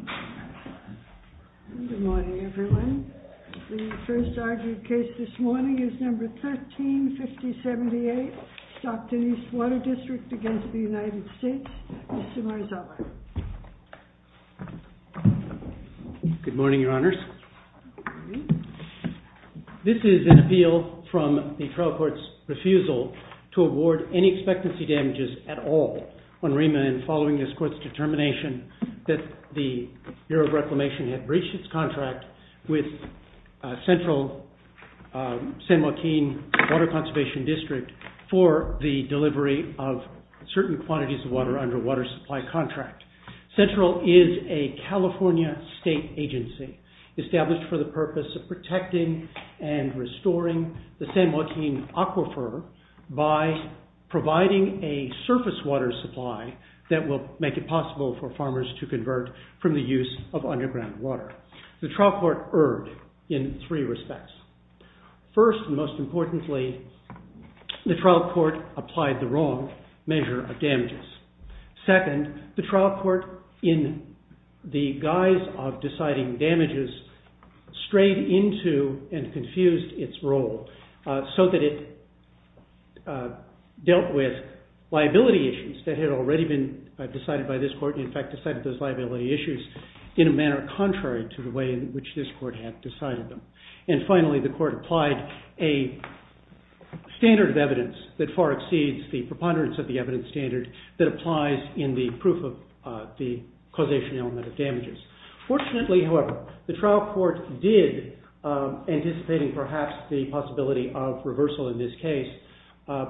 Mr. Marzalla. Good morning, Your Honors. This is an appeal from the trial court's refusal to award any expectancy damages at all on Rima and following this court's determination that the Bureau of Reclamation had breached its contract with Central San Joaquin Water Conservation District for the delivery of certain quantities of water under water supply contract. Central is a California state agency established for the purpose of protecting and restoring the San Joaquin River by providing a surface water supply that will make it possible for farmers to convert from the use of underground water. The trial court erred in three respects. First and most importantly, the trial court applied the wrong measure of damages. Second, the trial court in the guise of deciding damages strayed into and confused its role so that it dealt with liability issues that had already been decided by this court and in fact decided those liability issues in a manner contrary to the way in which this court had decided them. And finally, the court applied a standard of evidence that far exceeds the preponderance of the evidence standard that Fortunately, however, the trial court did, anticipating perhaps the possibility of reversal in this case,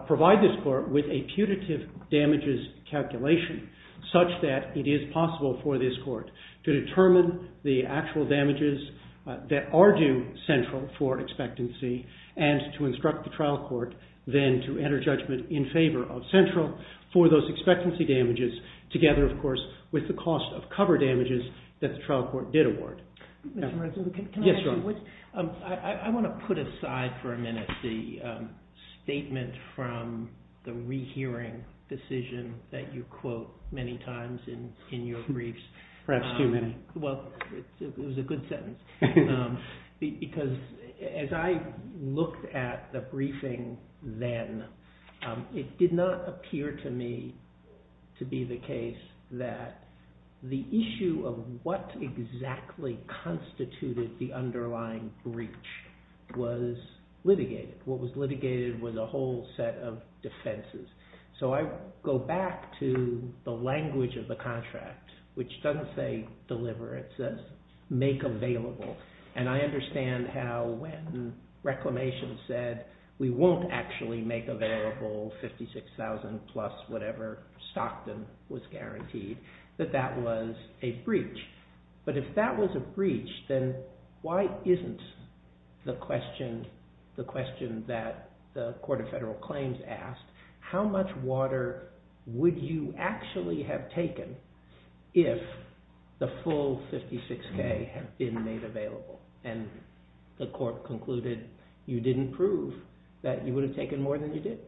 provide this court with a putative damages calculation such that it is possible for this court to determine the actual damages that are due Central for expectancy and to instruct the trial court then to enter judgment in favor of Central for those expectancy damages together, of course, with the cost of cover damages that the trial court did award. I want to put aside for a minute the statement from the rehearing decision that you quote many times in your briefs. Perhaps too many. Well, it was a good sentence because as I looked at the briefing then, it did not appear to me to be the case that the issue of what exactly constituted the underlying breach was litigated. What was litigated was a whole set of defenses. So I go back to the language of the contract, which doesn't say deliver. It says make available. And I understand how when reclamation said we won't actually make available 56,000 plus whatever Stockton was guaranteed, that that was a breach. But if that was a breach, then why isn't the question that the Court of Federal Claims asked, how much water would you actually have taken if the full 56K had been made available? And the court concluded you didn't prove that you would have taken more than you did.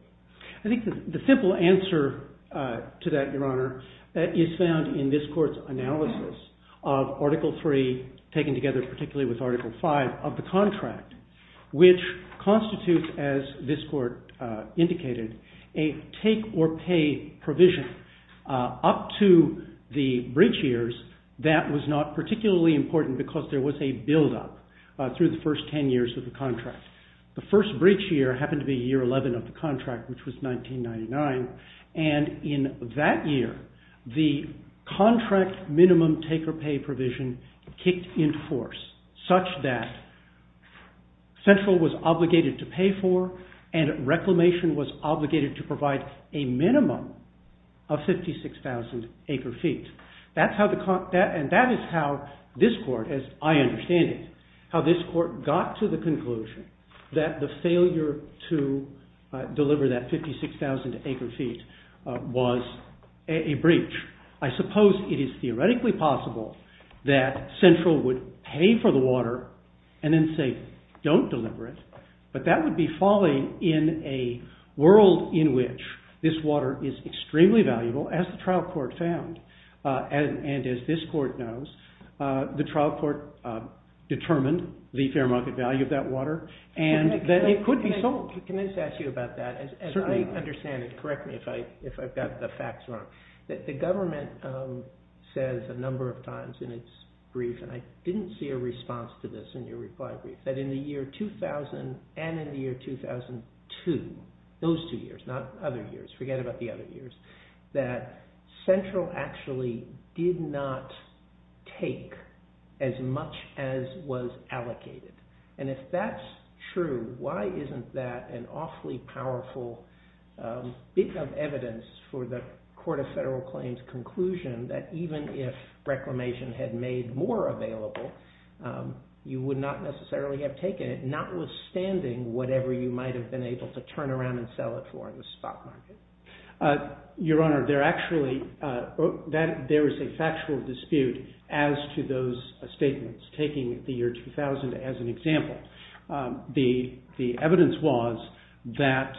I think the simple answer to that, Your Honor, is found in this court's analysis of Article III, taken together particularly with Article V of the contract, which constitutes, as this court indicated, a take-or-pay provision up to the breach years that was not particularly important because there was a build-up through the first 10 years of the contract. The first breach year happened to be year 11 of the contract, which was 1999, and in that year, the contract minimum take-or-pay provision kicked in force such that Central was obligated to pay for and reclamation was obligated to provide a minimum of 56,000 acre-feet. And that is how this court, as I understand it, how this court got to the conclusion that the failure to deliver that 56,000 acre-feet was a breach. I suppose it is theoretically possible that Central would pay for the water and then say don't deliver it, but that would be falling in a world in which this water is extremely valuable, as the trial court found. And as this court knows, the trial court determined the fair market value of that water and that it could be sold. Can I just ask you about that? I understand it. Correct me if I've got the facts wrong. The government says a number of times in its brief, and I didn't see a response to this in your reply brief, that in the year 2000 and in the year 2002, those two years, not other years, forget about the other years, that Central actually did not take as much as was allocated. And if that's true, why isn't that an awfully powerful bit of evidence for the Court of Federal Claims conclusion that even if reclamation had made more available, you would not necessarily have taken it, notwithstanding whatever you might have been able to turn around and sell it for in the spot market. Your Honour, there is a factual dispute as to those statements, taking the year 2000 as an example. The evidence was that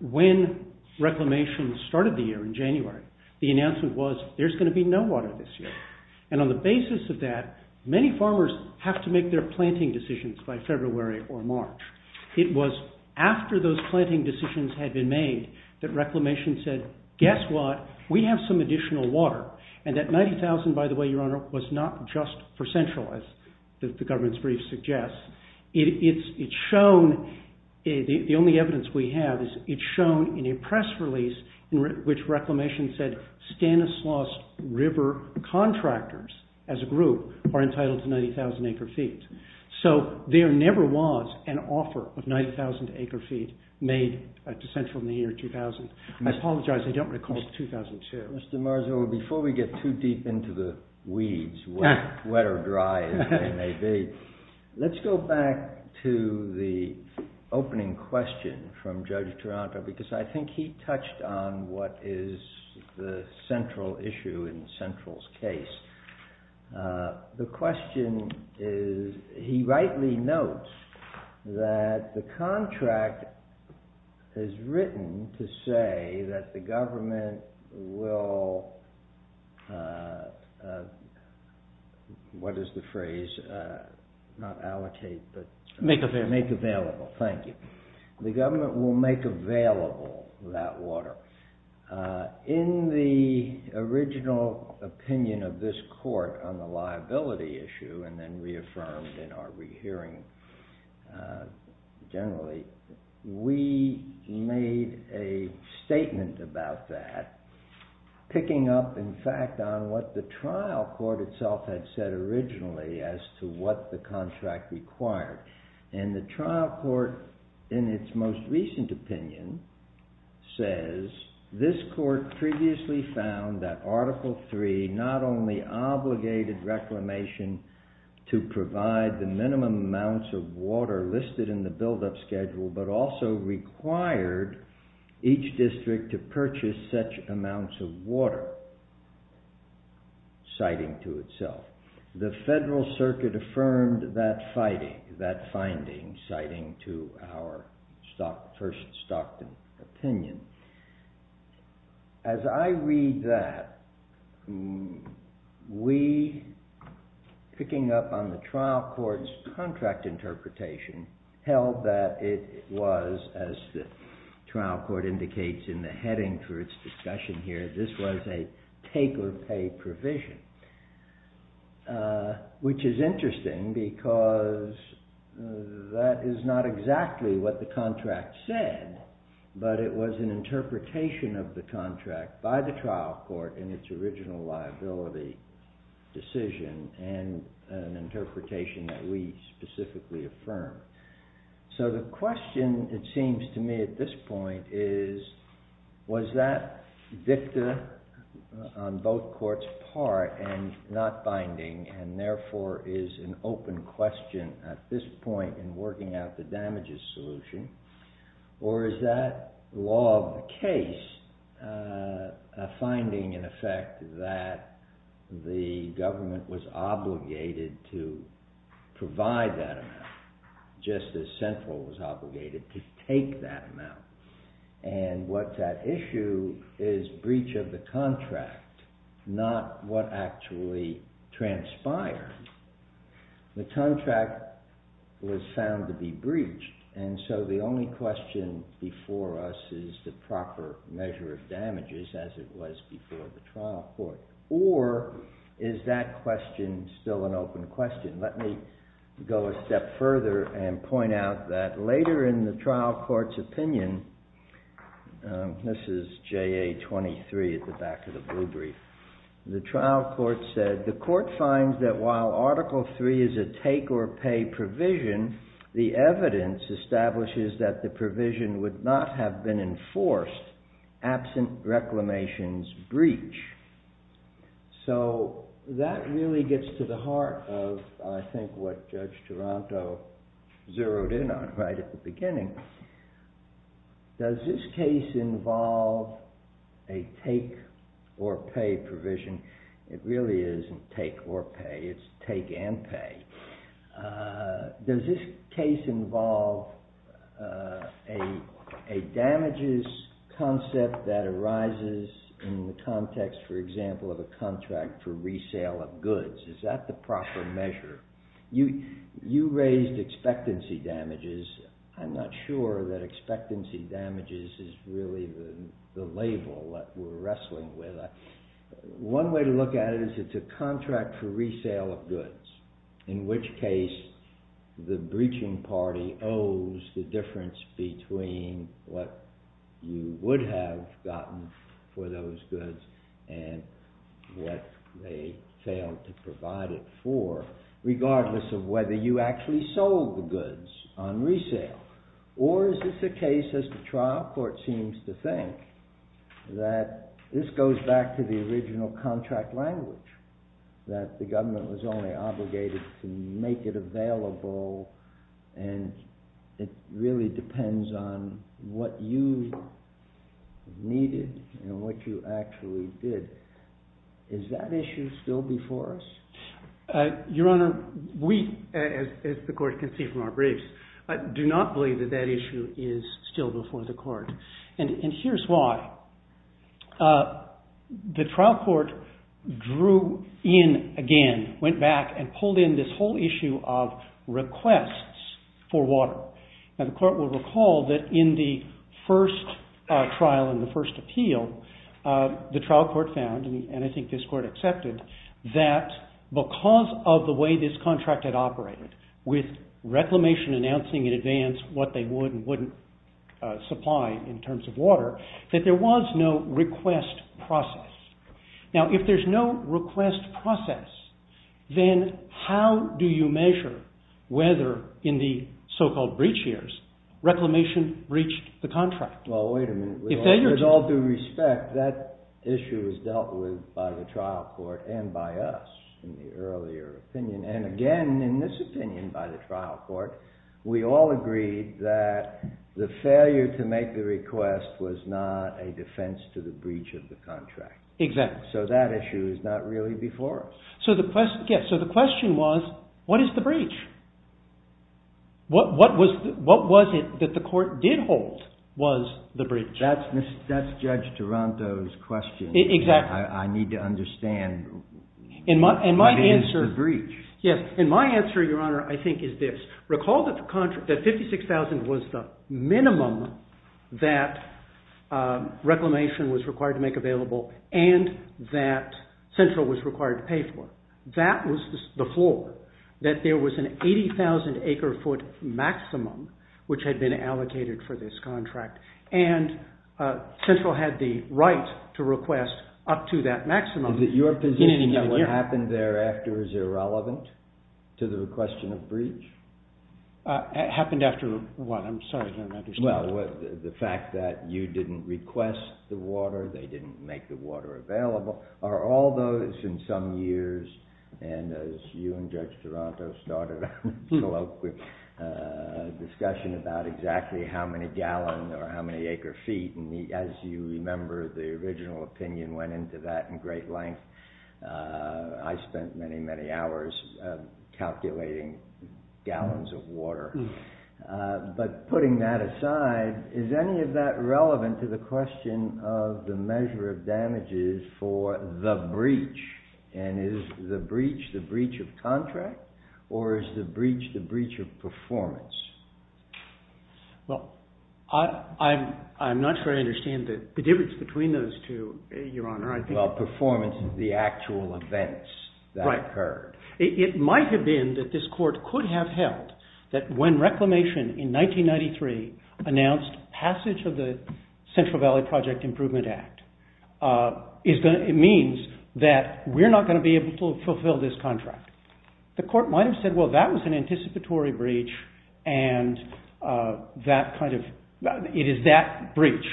when reclamation started the year in January, the announcement was there's going to be no water this year. And on the basis of that, many farmers have to make their planting decisions by February or March. It was after those planting decisions had been made that reclamation said, guess what, we have some additional water. And that 90,000, by the way, Your Honour, was not just for Central, as the government's brief suggests. It's shown, the only evidence we have is it's shown in a press release in which reclamation said Stanislaus River contractors, as a group, are entitled to 90,000 acre feet. So there never was an offer of 90,000 acre feet made to Central in the year 2000. I apologize, I don't recall 2002. Mr. Marzullo, before we get too deep into the weeds, wet or dry as they may be, let's go back to the opening question from Judge Taranto, because I think he touched on what is the central issue in Central's case. The question is, he rightly notes that the contract is written to say that the government will, what is the phrase, not allocate, but make available. Thank you. The government will make of this court on the liability issue, and then reaffirmed in our re-hearing, generally, we made a statement about that, picking up, in fact, on what the trial court itself had said originally as to what the contract required. And the trial court, in its most recent opinion, says this court previously found that Article 3 not only obligated reclamation to provide the minimum amounts of water listed in the build-up schedule, but also required each district to purchase such amounts of water, citing to itself. The federal circuit affirmed that finding, citing to our first Stockton opinion. As I read that, we, picking up on the trial court's contract interpretation, held that it was, as the trial court indicates in the heading for its discussion here, this was a take that the contract said, but it was an interpretation of the contract by the trial court in its original liability decision, and an interpretation that we specifically affirmed. So the question, it seems to me at this point, is, was that dicta on both courts par and not binding, and therefore is an open question at this point in Or is that law of the case a finding, in effect, that the government was obligated to provide that amount, just as Central was obligated to take that amount. And what that issue is breach of the contract, not what actually transpired. The contract was found to be breached, and so the only question before us is the proper measure of damages as it was before the trial court. Or is that question still an open question? Let me go a step further and point out that later in the trial court's opinion, this is JA 23 at the back of the blue brief, the trial court said the court finds that while Article 3 is a take or pay provision, the evidence establishes that the provision would not have been enforced absent reclamation's breach. So that really gets to the heart of, I think, what Judge Toronto zeroed in on right at the beginning. Does this case involve a take or pay provision? It really isn't take or pay, it's take and pay. Does this case involve a damages concept that arises in the context, for example, of a contract for resale of goods? Is that the case? I'm not sure that expectancy damages is really the label that we're wrestling with. One way to look at it is it's a contract for resale of goods, in which case the breaching party owes the difference between what you would have gotten for having sold the goods on resale. Or is this a case, as the trial court seems to think, that this goes back to the original contract language, that the government was only obligated to make it available and it really depends on what you needed and what you actually did. Is that issue still before us? Your Honor, we, as the court can see from our briefs, do not believe that that issue is still before the court. And here's why. The trial court drew in again, went back and pulled in this whole issue of requests for water. Now the court will recall that in the first trial and the first appeal, the trial court found, and I think this court accepted, that because of the way this contract had operated, with reclamation announcing in advance what they would and wouldn't supply in terms of water, that there was no request process. Now if there's no Well, wait a minute. With all due respect, that issue was dealt with by the trial court and by us in the earlier opinion. And again, in this opinion by the trial court, we all agreed that the failure to make the request was not a defense to the breach of the contract. So that issue is not really before us. So the question was, what is the breach? What was it that the court did hold was the breach? That's Judge Toronto's question. I need to understand what is the breach. Yes. And my answer, Your Honor, I think is this. Recall that 56,000 was the minimum that reclamation was required to make available and that Central was required to pay for. That was the floor. That there was an 80,000 acre foot maximum which had been allocated for this contract. And Central had the right to request up to that maximum. Is it your position that what happened thereafter is irrelevant to the question of breach? Happened after what? I'm sorry, I don't understand. Well, the fact that you didn't request the water, they didn't make the water available. Are all those in some years, and as you and Judge Toronto started a colloquial discussion about exactly how many gallons or how many acre feet, and as you remember, the original opinion went into that in great length. I spent many, many hours calculating gallons of water. But putting that aside, is any of that relevant to the question of the measure of damages for the breach? And is the breach the breach of contract or is the breach the breach of performance? Well, I'm not sure I understand the difference between those two, Your Honor. Well, performance is the actual events that occurred. It might have been that this court could have held that when reclamation in 1993 announced passage of the Central Valley Project Improvement Act, it means that we're not going to be able to fulfill this contract. The court might have said, well, that was an anticipatory breach, and it is that breach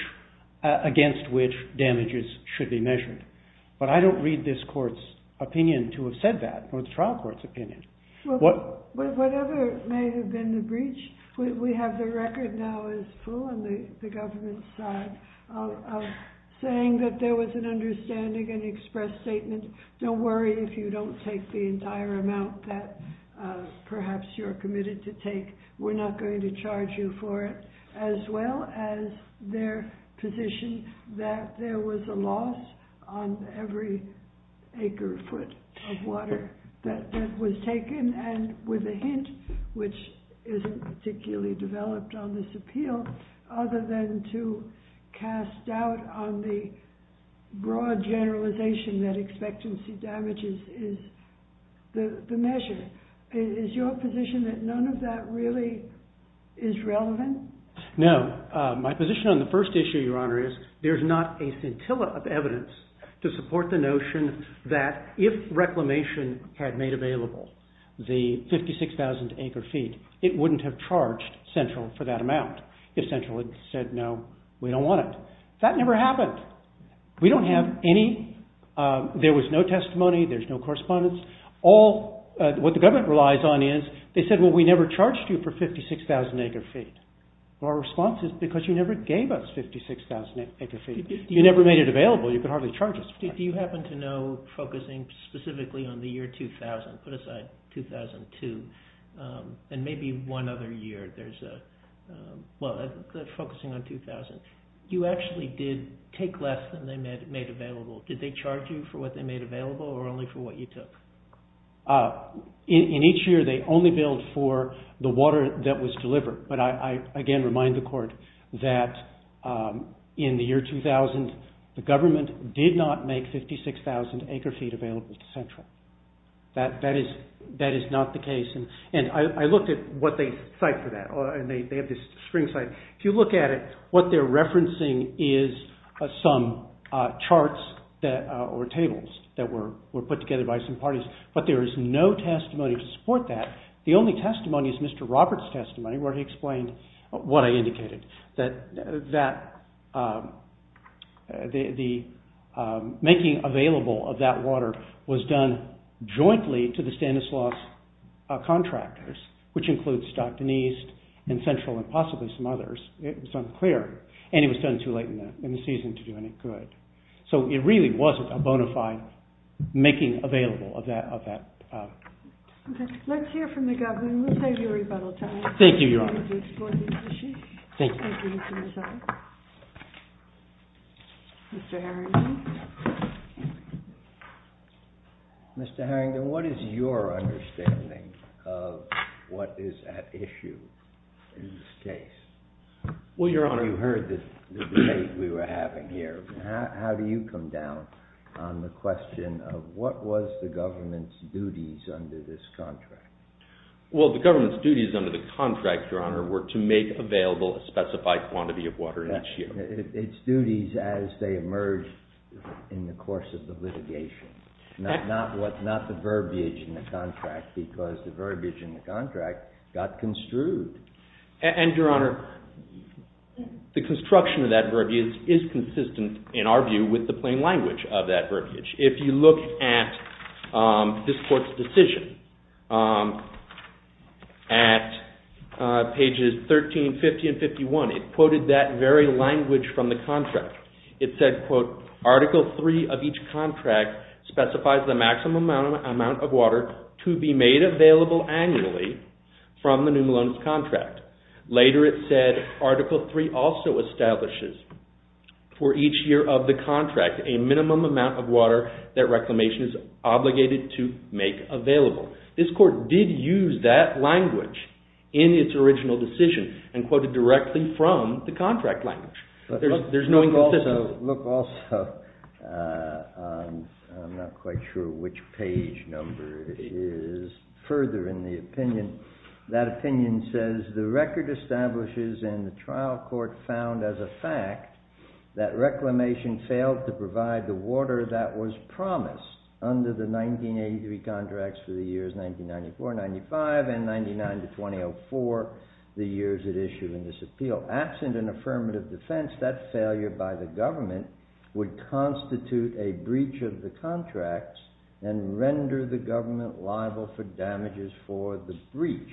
against which damages should be measured. But I don't read this court's opinion to have said that, or the trial court's opinion. Whatever may have been the breach, we have the record now as full on the government's side of saying that there was an understanding and expressed statement, don't worry if you don't take the entire amount that perhaps you're committed to take, we're not going to charge you for it. As well as their position that there was a loss on every acre foot of water that was taken, and with a hint, which isn't particularly developed on this appeal, other than to cast doubt on the broad generalization that expectancy damages is the measure. Is your position that none of that really is relevant? No. My position on the first issue, Your Honor, is there's not a scintilla of evidence to support the notion that if reclamation had made available the 56,000 acre feet, it wouldn't have charged Central for that amount. If Central had said, no, we don't want it. That never happened. We don't have any, there was no testimony, there's no correspondence. What the government relies on is, they said, well, we never charged you for 56,000 acre feet. Our response is, because you never gave us 56,000 acre feet. You never made it available, you could hardly charge us for that. Do you happen to know, focusing specifically on the year 2000, put aside 2002, and maybe one other year, there's a, well, focusing on 2000, you actually did take less than they made available. Did they charge you for what they made available, or only for what you took? In each year, they only billed for the water that was delivered. But I, again, remind the Court that in the year 2000, the government did not make 56,000 acre feet available to Central. That is not the case. And I looked at what they cite for that. They have this string cite. If you look at it, what they're referencing is some charts or tables that were put together by some parties. But there is no testimony to support that. The only testimony is Mr. Robert's testimony, where he explained what I indicated. That the making available of that water was done jointly to the Stanislaus contractors, which includes Stockton East and Central and possibly some others. It was unclear. And it was done too late in the season to do any good. So it really wasn't a bona fide making available of that. Let's hear from the government. We'll save you a rebuttal time. Thank you, Your Honor. Thank you. Mr. Harrington, what is your understanding of what is at issue in this case? Well, Your Honor. You heard the debate we were having here. How do you come down on the question of what was the government's duties under this contract? Well, the government's duties under the contract, Your Honor, were to make available a specified quantity of water each year. It's duties as they emerge in the course of the litigation. Not the verbiage in the contract, because the verbiage in the contract got construed. And, Your Honor, the construction of that verbiage is consistent, in our view, with the plain language of that verbiage. If you look at this court's decision, at pages 13, 15, and 51, it quoted that very language from the contract. It said, quote, Article III of each contract specifies the maximum amount of water to be made available annually from the new loans contract. Later it said, Article III also establishes for each year of the contract a minimum amount of water that Reclamation is obligated to make available. This court did use that language in its original decision and quoted directly from the contract language. There's no inconsistency. Look also, I'm not quite sure which page number is further in the opinion. That opinion says, the record establishes and the trial court found as a fact that Reclamation failed to provide the water that was promised under the 1983 contracts for the years 1994-95 and 99-2004, the years it issued in this appeal. So absent an affirmative defense, that failure by the government would constitute a breach of the contracts and render the government liable for damages for the breach.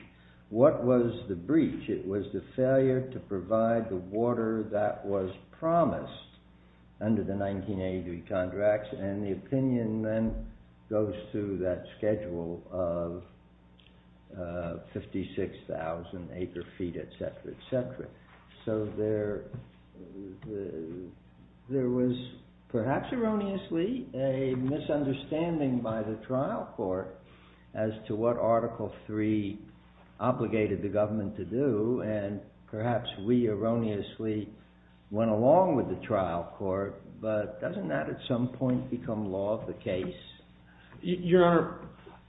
What was the breach? It was the failure to provide the water that was promised under the 1983 contracts. And the opinion then goes through that schedule of 56,000 acre feet, et cetera, et cetera. So there was perhaps erroneously a misunderstanding by the trial court as to what Article III obligated the government to do. And perhaps we erroneously went along with the trial court. But doesn't that at some point become law of the case? Your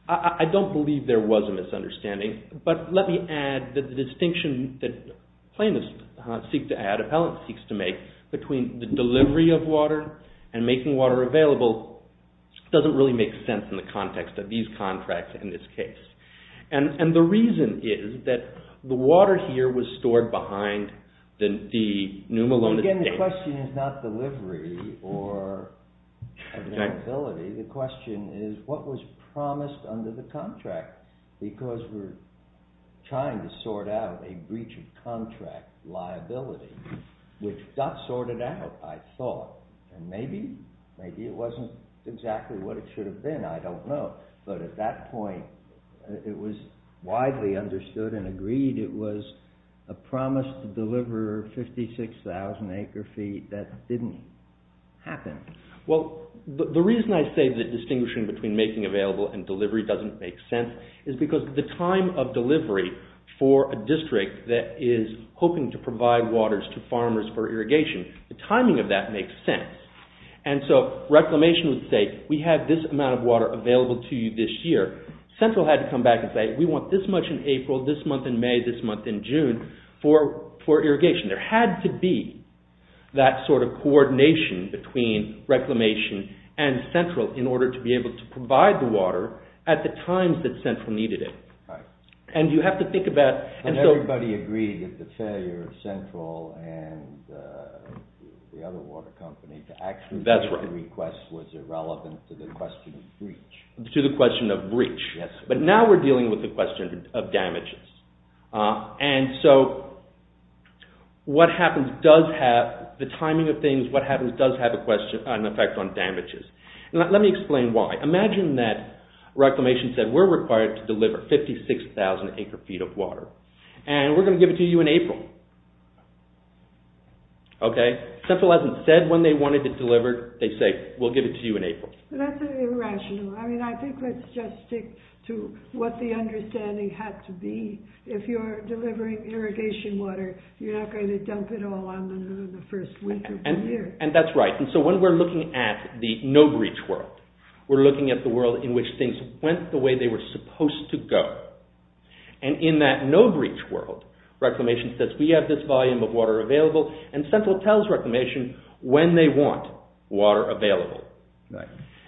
Honor, I don't believe there was a misunderstanding. But let me add that the distinction that plaintiffs seek to add, appellants seek to make, between the delivery of water and making water available doesn't really make sense in the context of these contracts in this case. And the reason is that the water here was stored behind the new Malone estate. The question is not delivery or availability. The question is, what was promised under the contract? Because we're trying to sort out a breach of contract liability, which got sorted out, I thought. And maybe it wasn't exactly what it should have been. I don't know. But at that point, it was widely understood and agreed it was a promise to deliver 56,000 acre feet that didn't happen. Well, the reason I say the distinction between making available and delivery doesn't make sense is because the time of delivery for a district that is hoping to provide waters to farmers for irrigation, the timing of that makes sense. And so Reclamation would say, we have this amount of water available to you this year. Central had to come back and say, we want this much in April, this month in May, this month in June for irrigation. There had to be that sort of coordination between Reclamation and Central in order to be able to provide the water at the times that Central needed it. Everybody agreed that the failure of Central and the other water companies to actually make the request was irrelevant to the question of breach. To the question of breach. Yes. But now we're dealing with the question of damages. And so what happens does have, the timing of things, what happens does have an effect on damages. Let me explain why. Imagine that Reclamation said, we're required to deliver 56,000 acre feet of water. And we're going to give it to you in April. Okay. Central hasn't said when they wanted it delivered. They say, we'll give it to you in April. That's irrational. I mean, I think let's just stick to what the understanding had to be. If you're delivering irrigation water, you're not going to dump it all on the first week of the year. And that's right. And so when we're looking at the no breach world, we're looking at the world in which things went the way they were supposed to go. And in that no breach world, Reclamation says, we have this volume of water available. And Central tells Reclamation when they want water available. Right.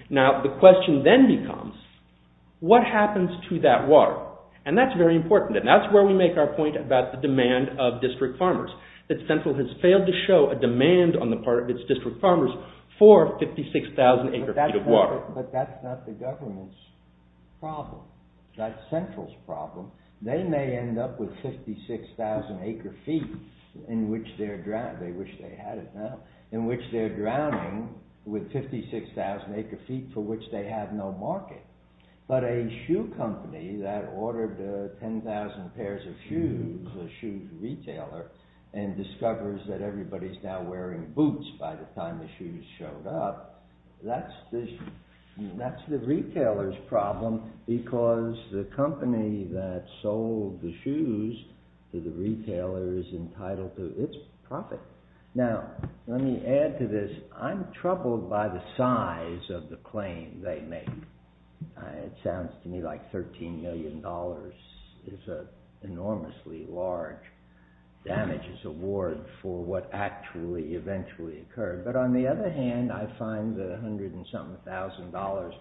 Now the question then becomes, what happens to that water? And that's very important. And that's where we make our point about the demand of district farmers. That Central has failed to show a demand on the part of its district farmers for 56,000 acre feet of water. But that's not the government's problem. That's Central's problem. They may end up with 56,000 acre feet in which they're drowning. They wish they had it now. In which they're drowning with 56,000 acre feet for which they have no market. But a shoe company that ordered 10,000 pairs of shoes, a shoe retailer, and discovers that everybody's now wearing boots by the time the shoes showed up, that's the retailer's problem. Because the company that sold the shoes to the retailer is entitled to its profit. Now, let me add to this. I'm troubled by the size of the claim they make. It sounds to me like $13 million is an enormously large damages award for what actually eventually occurred. But on the other hand, I find that $100,000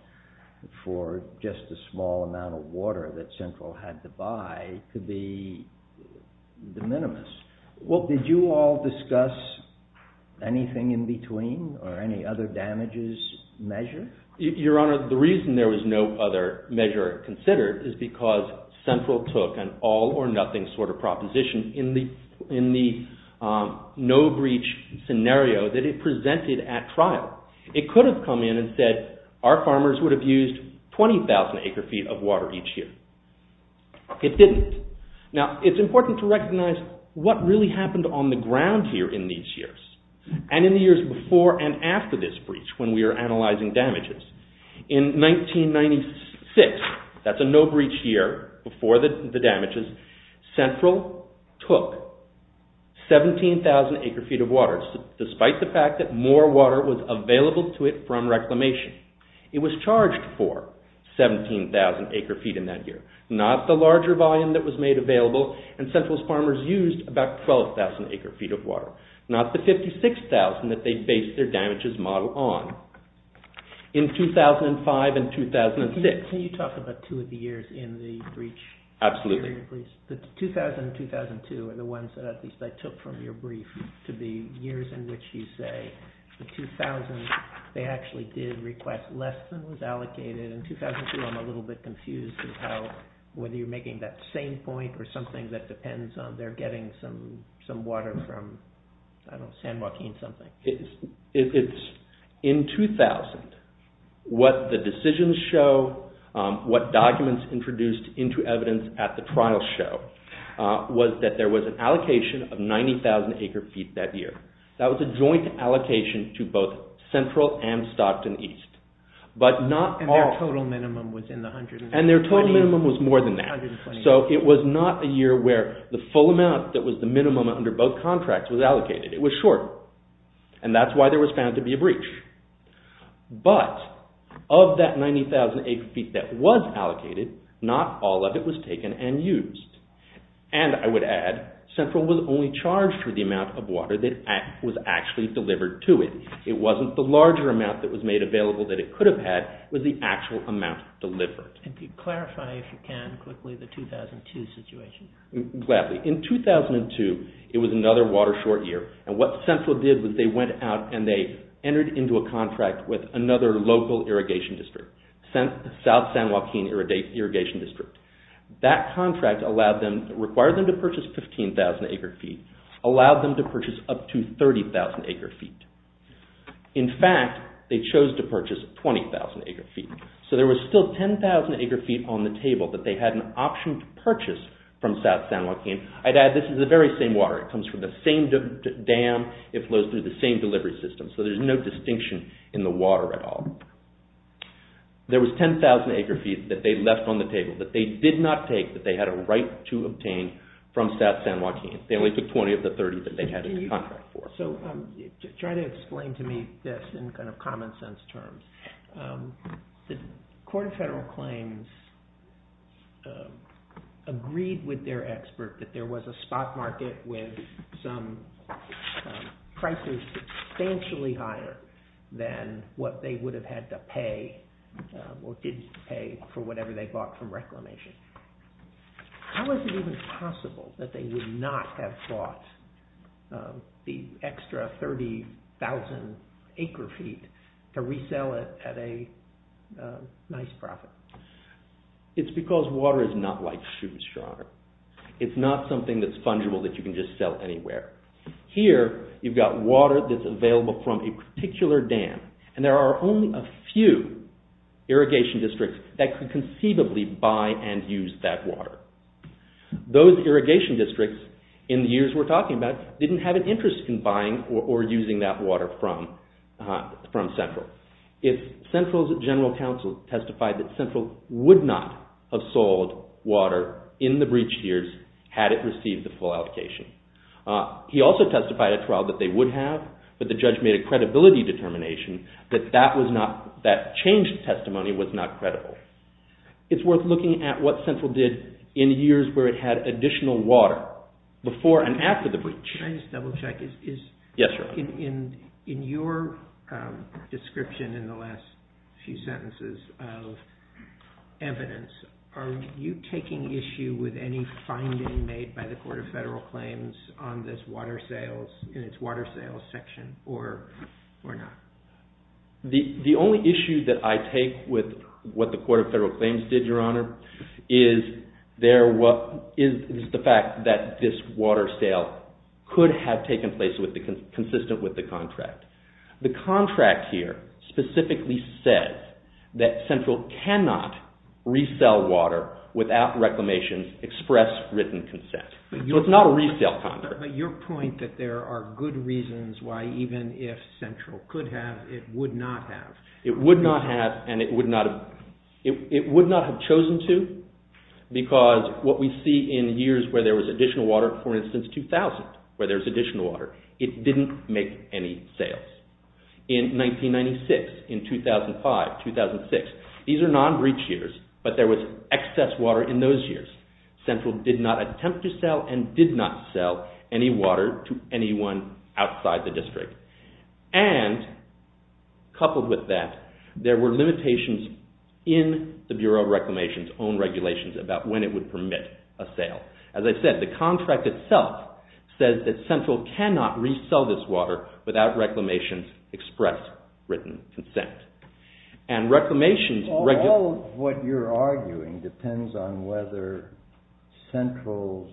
for just a small amount of water that Central had to buy could be de minimis. Well, did you all discuss anything in between or any other damages measure? Your Honor, the reason there was no other measure considered is because Central took an all or nothing sort of proposition in the no breach scenario that it presented at trial. It could have come in and said our farmers would have used 20,000 acre feet of water each year. It didn't. Now, it's important to recognize what really happened on the ground here in these years and in the years before and after this breach when we were analyzing damages. In 1996, that's a no breach year before the damages, Central took 17,000 acre feet of water despite the fact that more water was available to it from reclamation. It was charged for 17,000 acre feet in that year. Not the larger volume that was made available and Central's farmers used about 12,000 acre feet of water. Not the 56,000 that they based their damages model on in 2005 and 2006. Can you talk about two of the years in the breach? Absolutely. The 2000 and 2002 are the ones that at least I took from your brief to be years in which you say in 2000 they actually did request less than was allocated. In 2002, I'm a little bit confused as to how whether you're making that same point or something that depends on their getting some water from San Joaquin or something. In 2000, what the decisions show, what documents introduced into evidence at the trial show was that there was an allocation of 90,000 acre feet that year. That was a joint allocation to both Central and Stockton East. And their total minimum was more than that. So, it was not a year where the full amount that was the minimum under both contracts was allocated. It was short. And that's why there was found to be a breach. But, of that 90,000 acre feet that was allocated, not all of it was taken and used. And I would add, Central was only charged for the amount of water that was actually delivered to it. It wasn't the larger amount that was made available that it could have had. It was the actual amount delivered. Can you clarify if you can quickly the 2002 situation? Gladly. In 2002, it was another water short year. And what Central did was they went out and they entered into a contract with another local irrigation district, South San Joaquin Irrigation District. That contract required them to purchase 15,000 acre feet, allowed them to purchase up to 30,000 acre feet. In fact, they chose to purchase 20,000 acre feet. So, there was still 10,000 acre feet on the table that they had an option to purchase from South San Joaquin. I'd add, this is the very same water. It comes from the same dam. It flows through the same delivery system. So, there's no distinction in the water at all. There was 10,000 acre feet that they left on the table that they did not take, that they had a right to obtain from South San Joaquin. They only took 20 of the 30 that they had in the contract for. So, try to explain to me this in kind of common sense terms. The Court of Federal Claims agreed with their expert that there was a spot market with some prices substantially higher than what they would have had to pay or didn't pay for whatever they bought from Reclamation. How is it even possible that they would not have bought the extra 30,000 acre feet to resell it at a nice profit? It's because water is not like shoes, Your Honor. It's not something that's fungible that you can just sell anywhere. Here, you've got water that's available from a particular dam and there are only a few irrigation districts that could conceivably buy and use that water. Those irrigation districts, in the years we're talking about, didn't have an interest in buying or using that water from Central. If Central's general counsel testified that Central would not have sold water in the breach years had it received the full allocation. He also testified at trial that they would have, but the judge made a credibility determination that that changed testimony was not credible. It's worth looking at what Central did in years where it had additional water before and after the breach. Can I just double check? Yes, Your Honor. In your description in the last few sentences of evidence, are you taking issue with any finding made by the Court of Federal Claims on this water sales, in its water sales section, or not? The only issue that I take with what the Court of Federal Claims did, Your Honor, is the fact that this water sale could have taken place consistent with the contract. The contract here specifically says that Central cannot resell water without Reclamation's express written consent. It's not a resale contract. But your point that there are good reasons why even if Central could have, it would not have. It would not have, and it would not have chosen to, because what we see in years where there was additional water, for instance, 2000, where there was additional water, it didn't make any sales. In 1996, in 2005, 2006, these are non-breach years, but there was excess water in those years. Central did not attempt to sell and did not sell any water to anyone outside the district. And, coupled with that, there were limitations in the Bureau of Reclamation's own regulations about when it would permit a sale. As I said, the contract itself says that Central cannot resell this water without Reclamation's express written consent. All of what you're arguing depends on whether Central's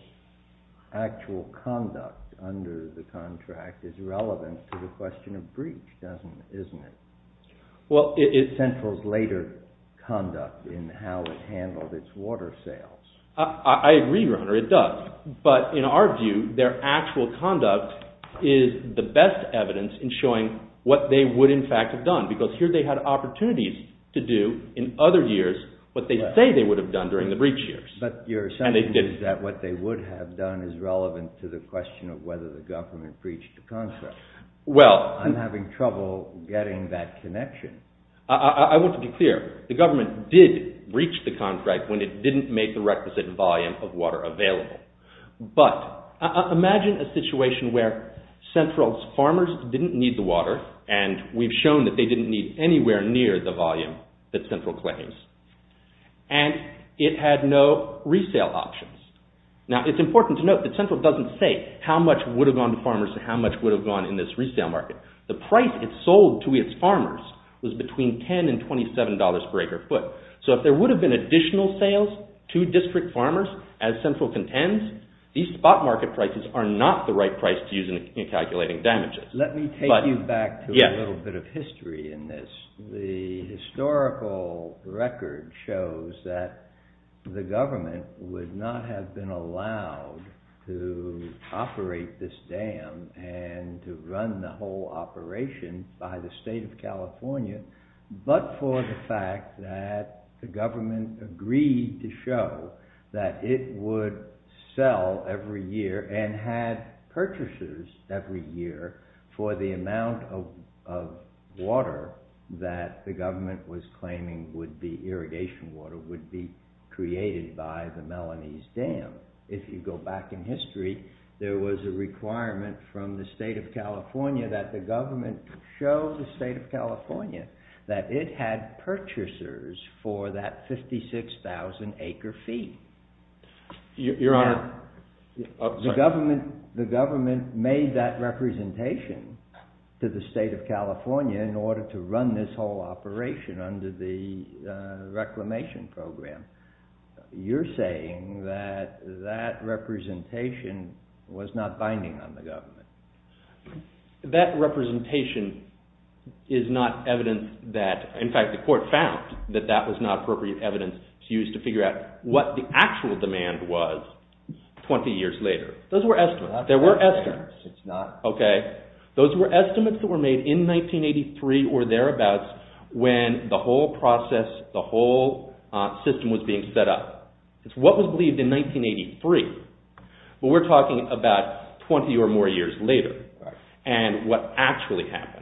actual conduct under the contract is relevant to the question of breach, doesn't it? Well, it is. Central's later conduct in how it handled its water sales. I agree, Your Honor, it does. But, in our view, their actual conduct is the best evidence in showing what they would, in fact, have done. Because here they had opportunities to do, in other years, what they say they would have done during the breach years. But your assumption is that what they would have done is relevant to the question of whether the government breached the contract. I'm having trouble getting that connection. I want to be clear. The government did breach the contract when it didn't make the requisite volume of water available. But, imagine a situation where Central's farmers didn't need the water, and we've shown that they didn't need anywhere near the volume that Central claims. And it had no resale options. Now, it's important to note that Central doesn't say how much would have gone to farmers and how much would have gone in this resale market. The price it sold to its farmers was between $10 and $27 per acre foot. So, if there would have been additional sales to district farmers, as Central contends, these spot market prices are not the right price to use in calculating damages. Let me take you back to a little bit of history in this. The historical record shows that the government would not have been allowed to operate this dam and to run the whole operation by the state of California, but for the fact that the government agreed to show that it would sell every year and had purchases every year for the amount of water that the government was claiming would be irrigation water, would be created by the Melanies Dam. If you go back in history, there was a requirement from the state of California that the government show the state of California that it had purchasers for that 56,000 acre feet. The government made that representation to the state of California in order to run this whole operation under the reclamation program. You're saying that that representation was not binding on the government. That representation is not evidence that, in fact the court found that that was not appropriate evidence to use to figure out what the actual demand was 20 years later. It's not. It's what was believed in 1983, but we're talking about 20 or more years later and what actually happened.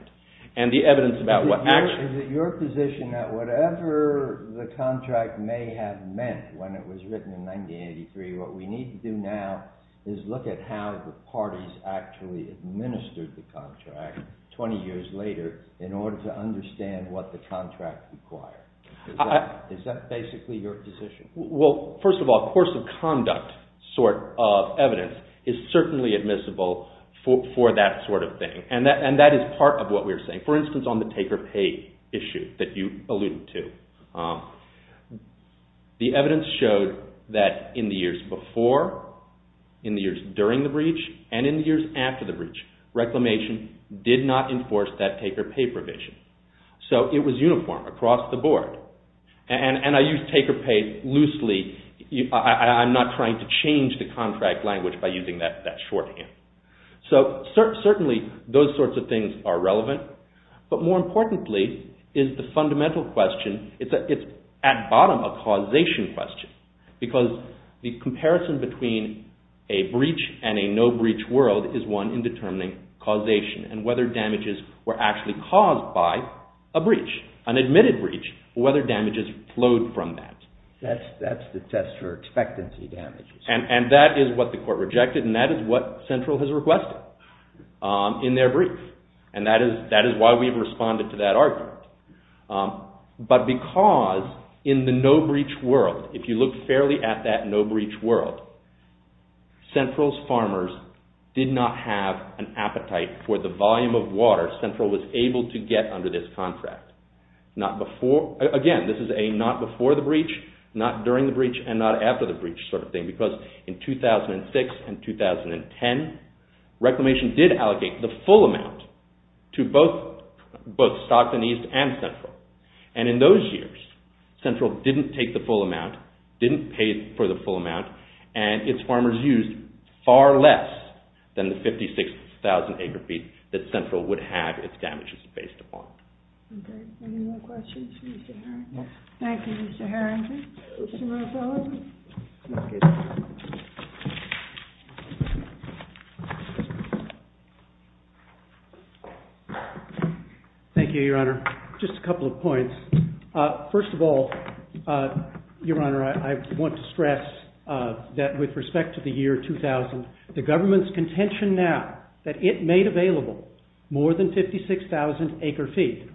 Is it your position that whatever the contract may have meant when it was written in 1983, what we need to do now is look at how the parties actually administered the contract 20 years later in order to understand what the contract required. Is that basically your position? Well, first of all, course of conduct sort of evidence is certainly admissible for that sort of thing and that is part of what we're saying. For instance, on the take or pay issue that you alluded to, the evidence showed that in the years before, in the years during the breach, and in the years after the breach, reclamation did not enforce that take or pay provision. So, it was uniform across the board and I used take or pay loosely. I'm not trying to change the contract language by using that shorthand. So, certainly those sorts of things are relevant, but more importantly is the fundamental question, it's at bottom a causation question because the comparison between a breach and a no breach world is one in determining causation and whether damages were actually caused by a breach, an admitted breach, whether damages flowed from that. That's the test for expectancy damages. And that is what the court rejected and that is what Central has requested in their brief and that is why we've responded to that argument. But because in the no breach world, if you look fairly at that no breach world, Central's farmers did not have an appetite for the volume of water Central was able to get under this contract. Again, this is a not before the breach, not during the breach, and not after the breach sort of thing because in 2006 and 2010, reclamation did allocate the full amount to both Stockton East and Central. And in those years, Central didn't take the full amount, didn't pay for the full amount, and its farmers used far less than the 56,000 acre feet that Central would have its damages based upon. Any more questions for Mr. Herrington? Thank you, Mr. Herrington. Thank you, Your Honor. Just a couple of points. First of all, Your Honor, I want to stress that with respect to the year 2000, the government's contention now that it made available more than 56,000 acre feet,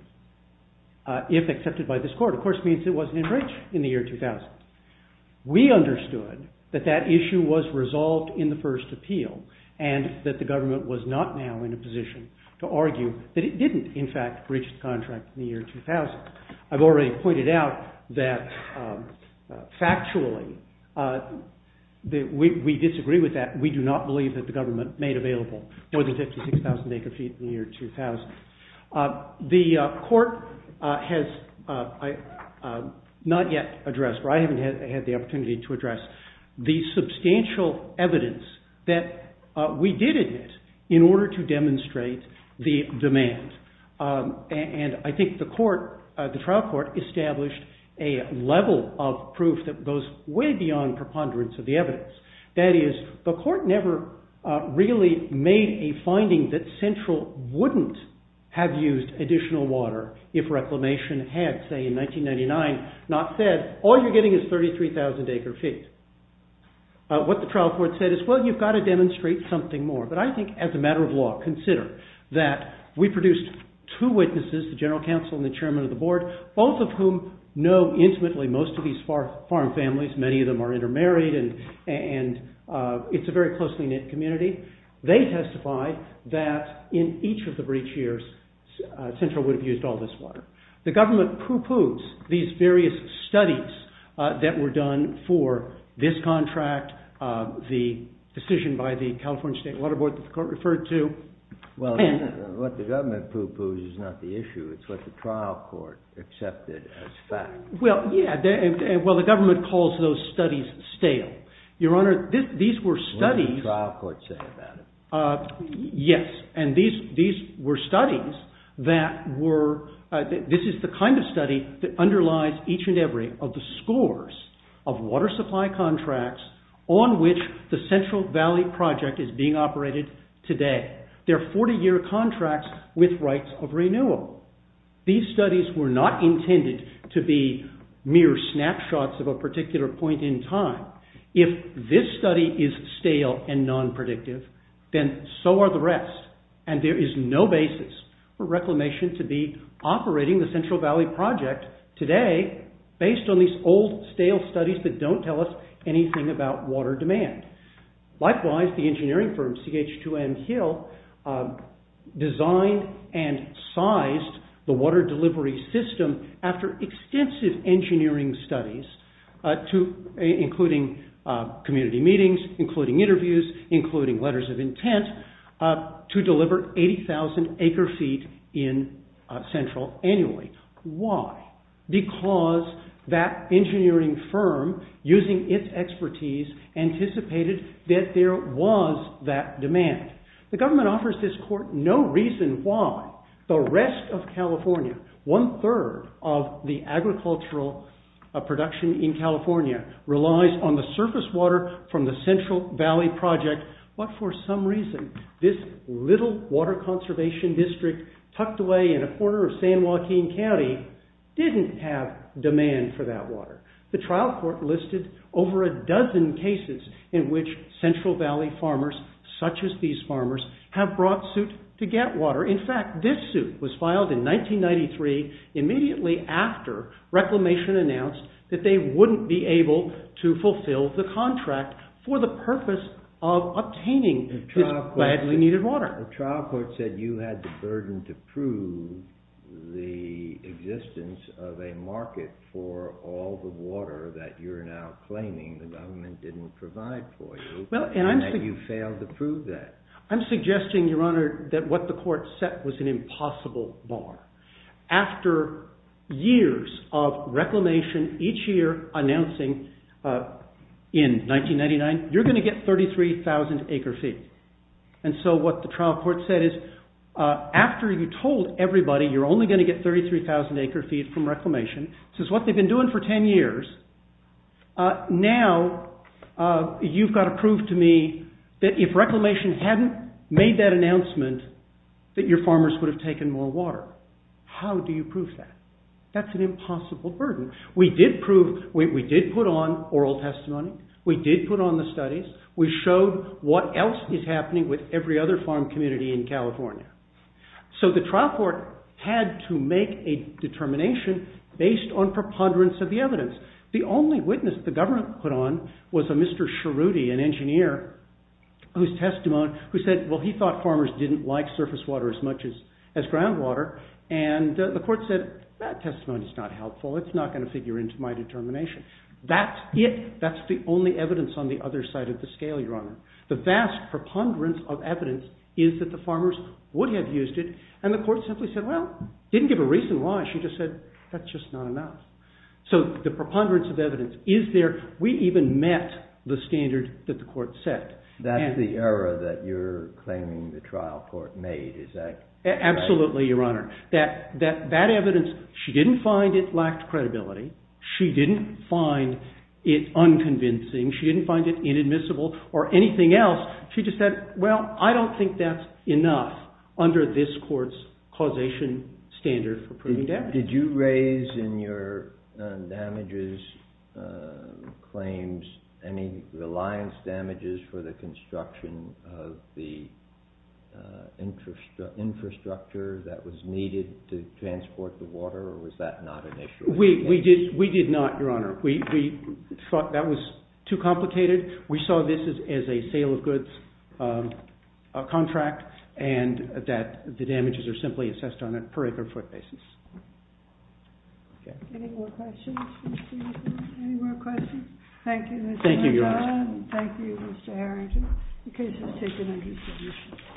if accepted by this court, of course means it wasn't in breach in the year 2000. We understood that that issue was resolved in the first appeal and that the government was not now in a position to argue that it didn't, in fact, breach the contract in the year 2000. I've already pointed out that factually, we disagree with that. We do not believe that the government made available more than 56,000 acre feet in the year 2000. The court has not yet addressed, or I haven't had the opportunity to address, the substantial evidence that we did admit in order to demonstrate the demand. And I think the trial court established a level of proof that goes way beyond preponderance of the evidence. That is, the court never really made a finding that Central wouldn't have used additional water if reclamation had, say, in 1999, not said, all you're getting is 33,000 acre feet. What the trial court said is, well, you've got to demonstrate something more. But I think as a matter of law, consider that we produced two witnesses, the general counsel and the chairman of the board, both of whom know intimately most of these farm families. Many of them are intermarried and it's a very closely knit community. They testified that in each of the breach years, Central would have used all this water. The government pooh-poohs these various studies that were done for this contract, the decision by the California State Water Board that the court referred to. Well, what the government pooh-poohs is not the issue. It's what the trial court accepted as fact. Well, yeah. Well, the government calls those studies stale. Your Honor, these were studies. What did the trial court say about it? Yes, and these were studies that were, this is the kind of study that underlies each and every of the scores of water supply contracts on which the Central Valley Project is being operated today. They're 40-year contracts with rights of renewal. These studies were not intended to be mere snapshots of a particular point in time. If this study is stale and non-predictive, then so are the rest. And there is no basis for Reclamation to be operating the Central Valley Project today based on these old stale studies that don't tell us anything about water demand. Likewise, the engineering firm CH2M Hill designed and sized the water delivery system after extensive engineering studies, including community meetings, including interviews, including letters of intent, to deliver 80,000 acre feet in Central annually. Why? Because that engineering firm, using its expertise, anticipated that there was that demand. The government offers this court no reason why the rest of California, one-third of the agricultural production in California, relies on the surface water from the Central Valley Project. But for some reason, this little water conservation district tucked away in a corner of San Joaquin County didn't have demand for that water. The trial court listed over a dozen cases in which Central Valley farmers, such as these farmers, have brought suit to get water. In fact, this suit was filed in 1993, immediately after Reclamation announced that they wouldn't be able to fulfill the contract for the purpose of obtaining this badly needed water. The trial court said you had the burden to prove the existence of a market for all the water that you're now claiming the government didn't provide for you, and that you failed to prove that. I'm suggesting, Your Honor, that what the court set was an impossible bar. After years of Reclamation each year announcing in 1999, you're going to get 33,000 acre feet. And so what the trial court said is, after you told everybody you're only going to get 33,000 acre feet from Reclamation, since what they've been doing for 10 years, now you've got to prove to me that if Reclamation hadn't made that announcement that your farmers would have taken more water. How do you prove that? That's an impossible burden. We did put on oral testimony. We did put on the studies. We showed what else is happening with every other farm community in California. So the trial court had to make a determination based on preponderance of the evidence. The only witness the government put on was a Mr. Schiruti, an engineer, whose testimony, who said, well, he thought farmers didn't like surface water as much as groundwater. And the court said, that testimony is not helpful. That's it. That's the only evidence on the other side of the scale, Your Honor. The vast preponderance of evidence is that the farmers would have used it, and the court simply said, well, didn't give a reason why. She just said, that's just not enough. So the preponderance of evidence is there. We even met the standard that the court set. That's the error that you're claiming the trial court made, is that correct? Absolutely, Your Honor. That evidence, she didn't find it lacked credibility. She didn't find it unconvincing. She didn't find it inadmissible or anything else. She just said, well, I don't think that's enough under this court's causation standard for proving damages. Did you raise in your damages claims any reliance damages for the construction of the infrastructure that was needed to transport the water, or was that not an issue? We did not, Your Honor. We thought that was too complicated. We saw this as a sale of goods contract, and that the damages are simply assessed on a per acre foot basis. Any more questions? Any more questions? Thank you, Mr. McGowan. Thank you, Your Honor. Thank you, Mr. Harrington, in case you've taken any submissions.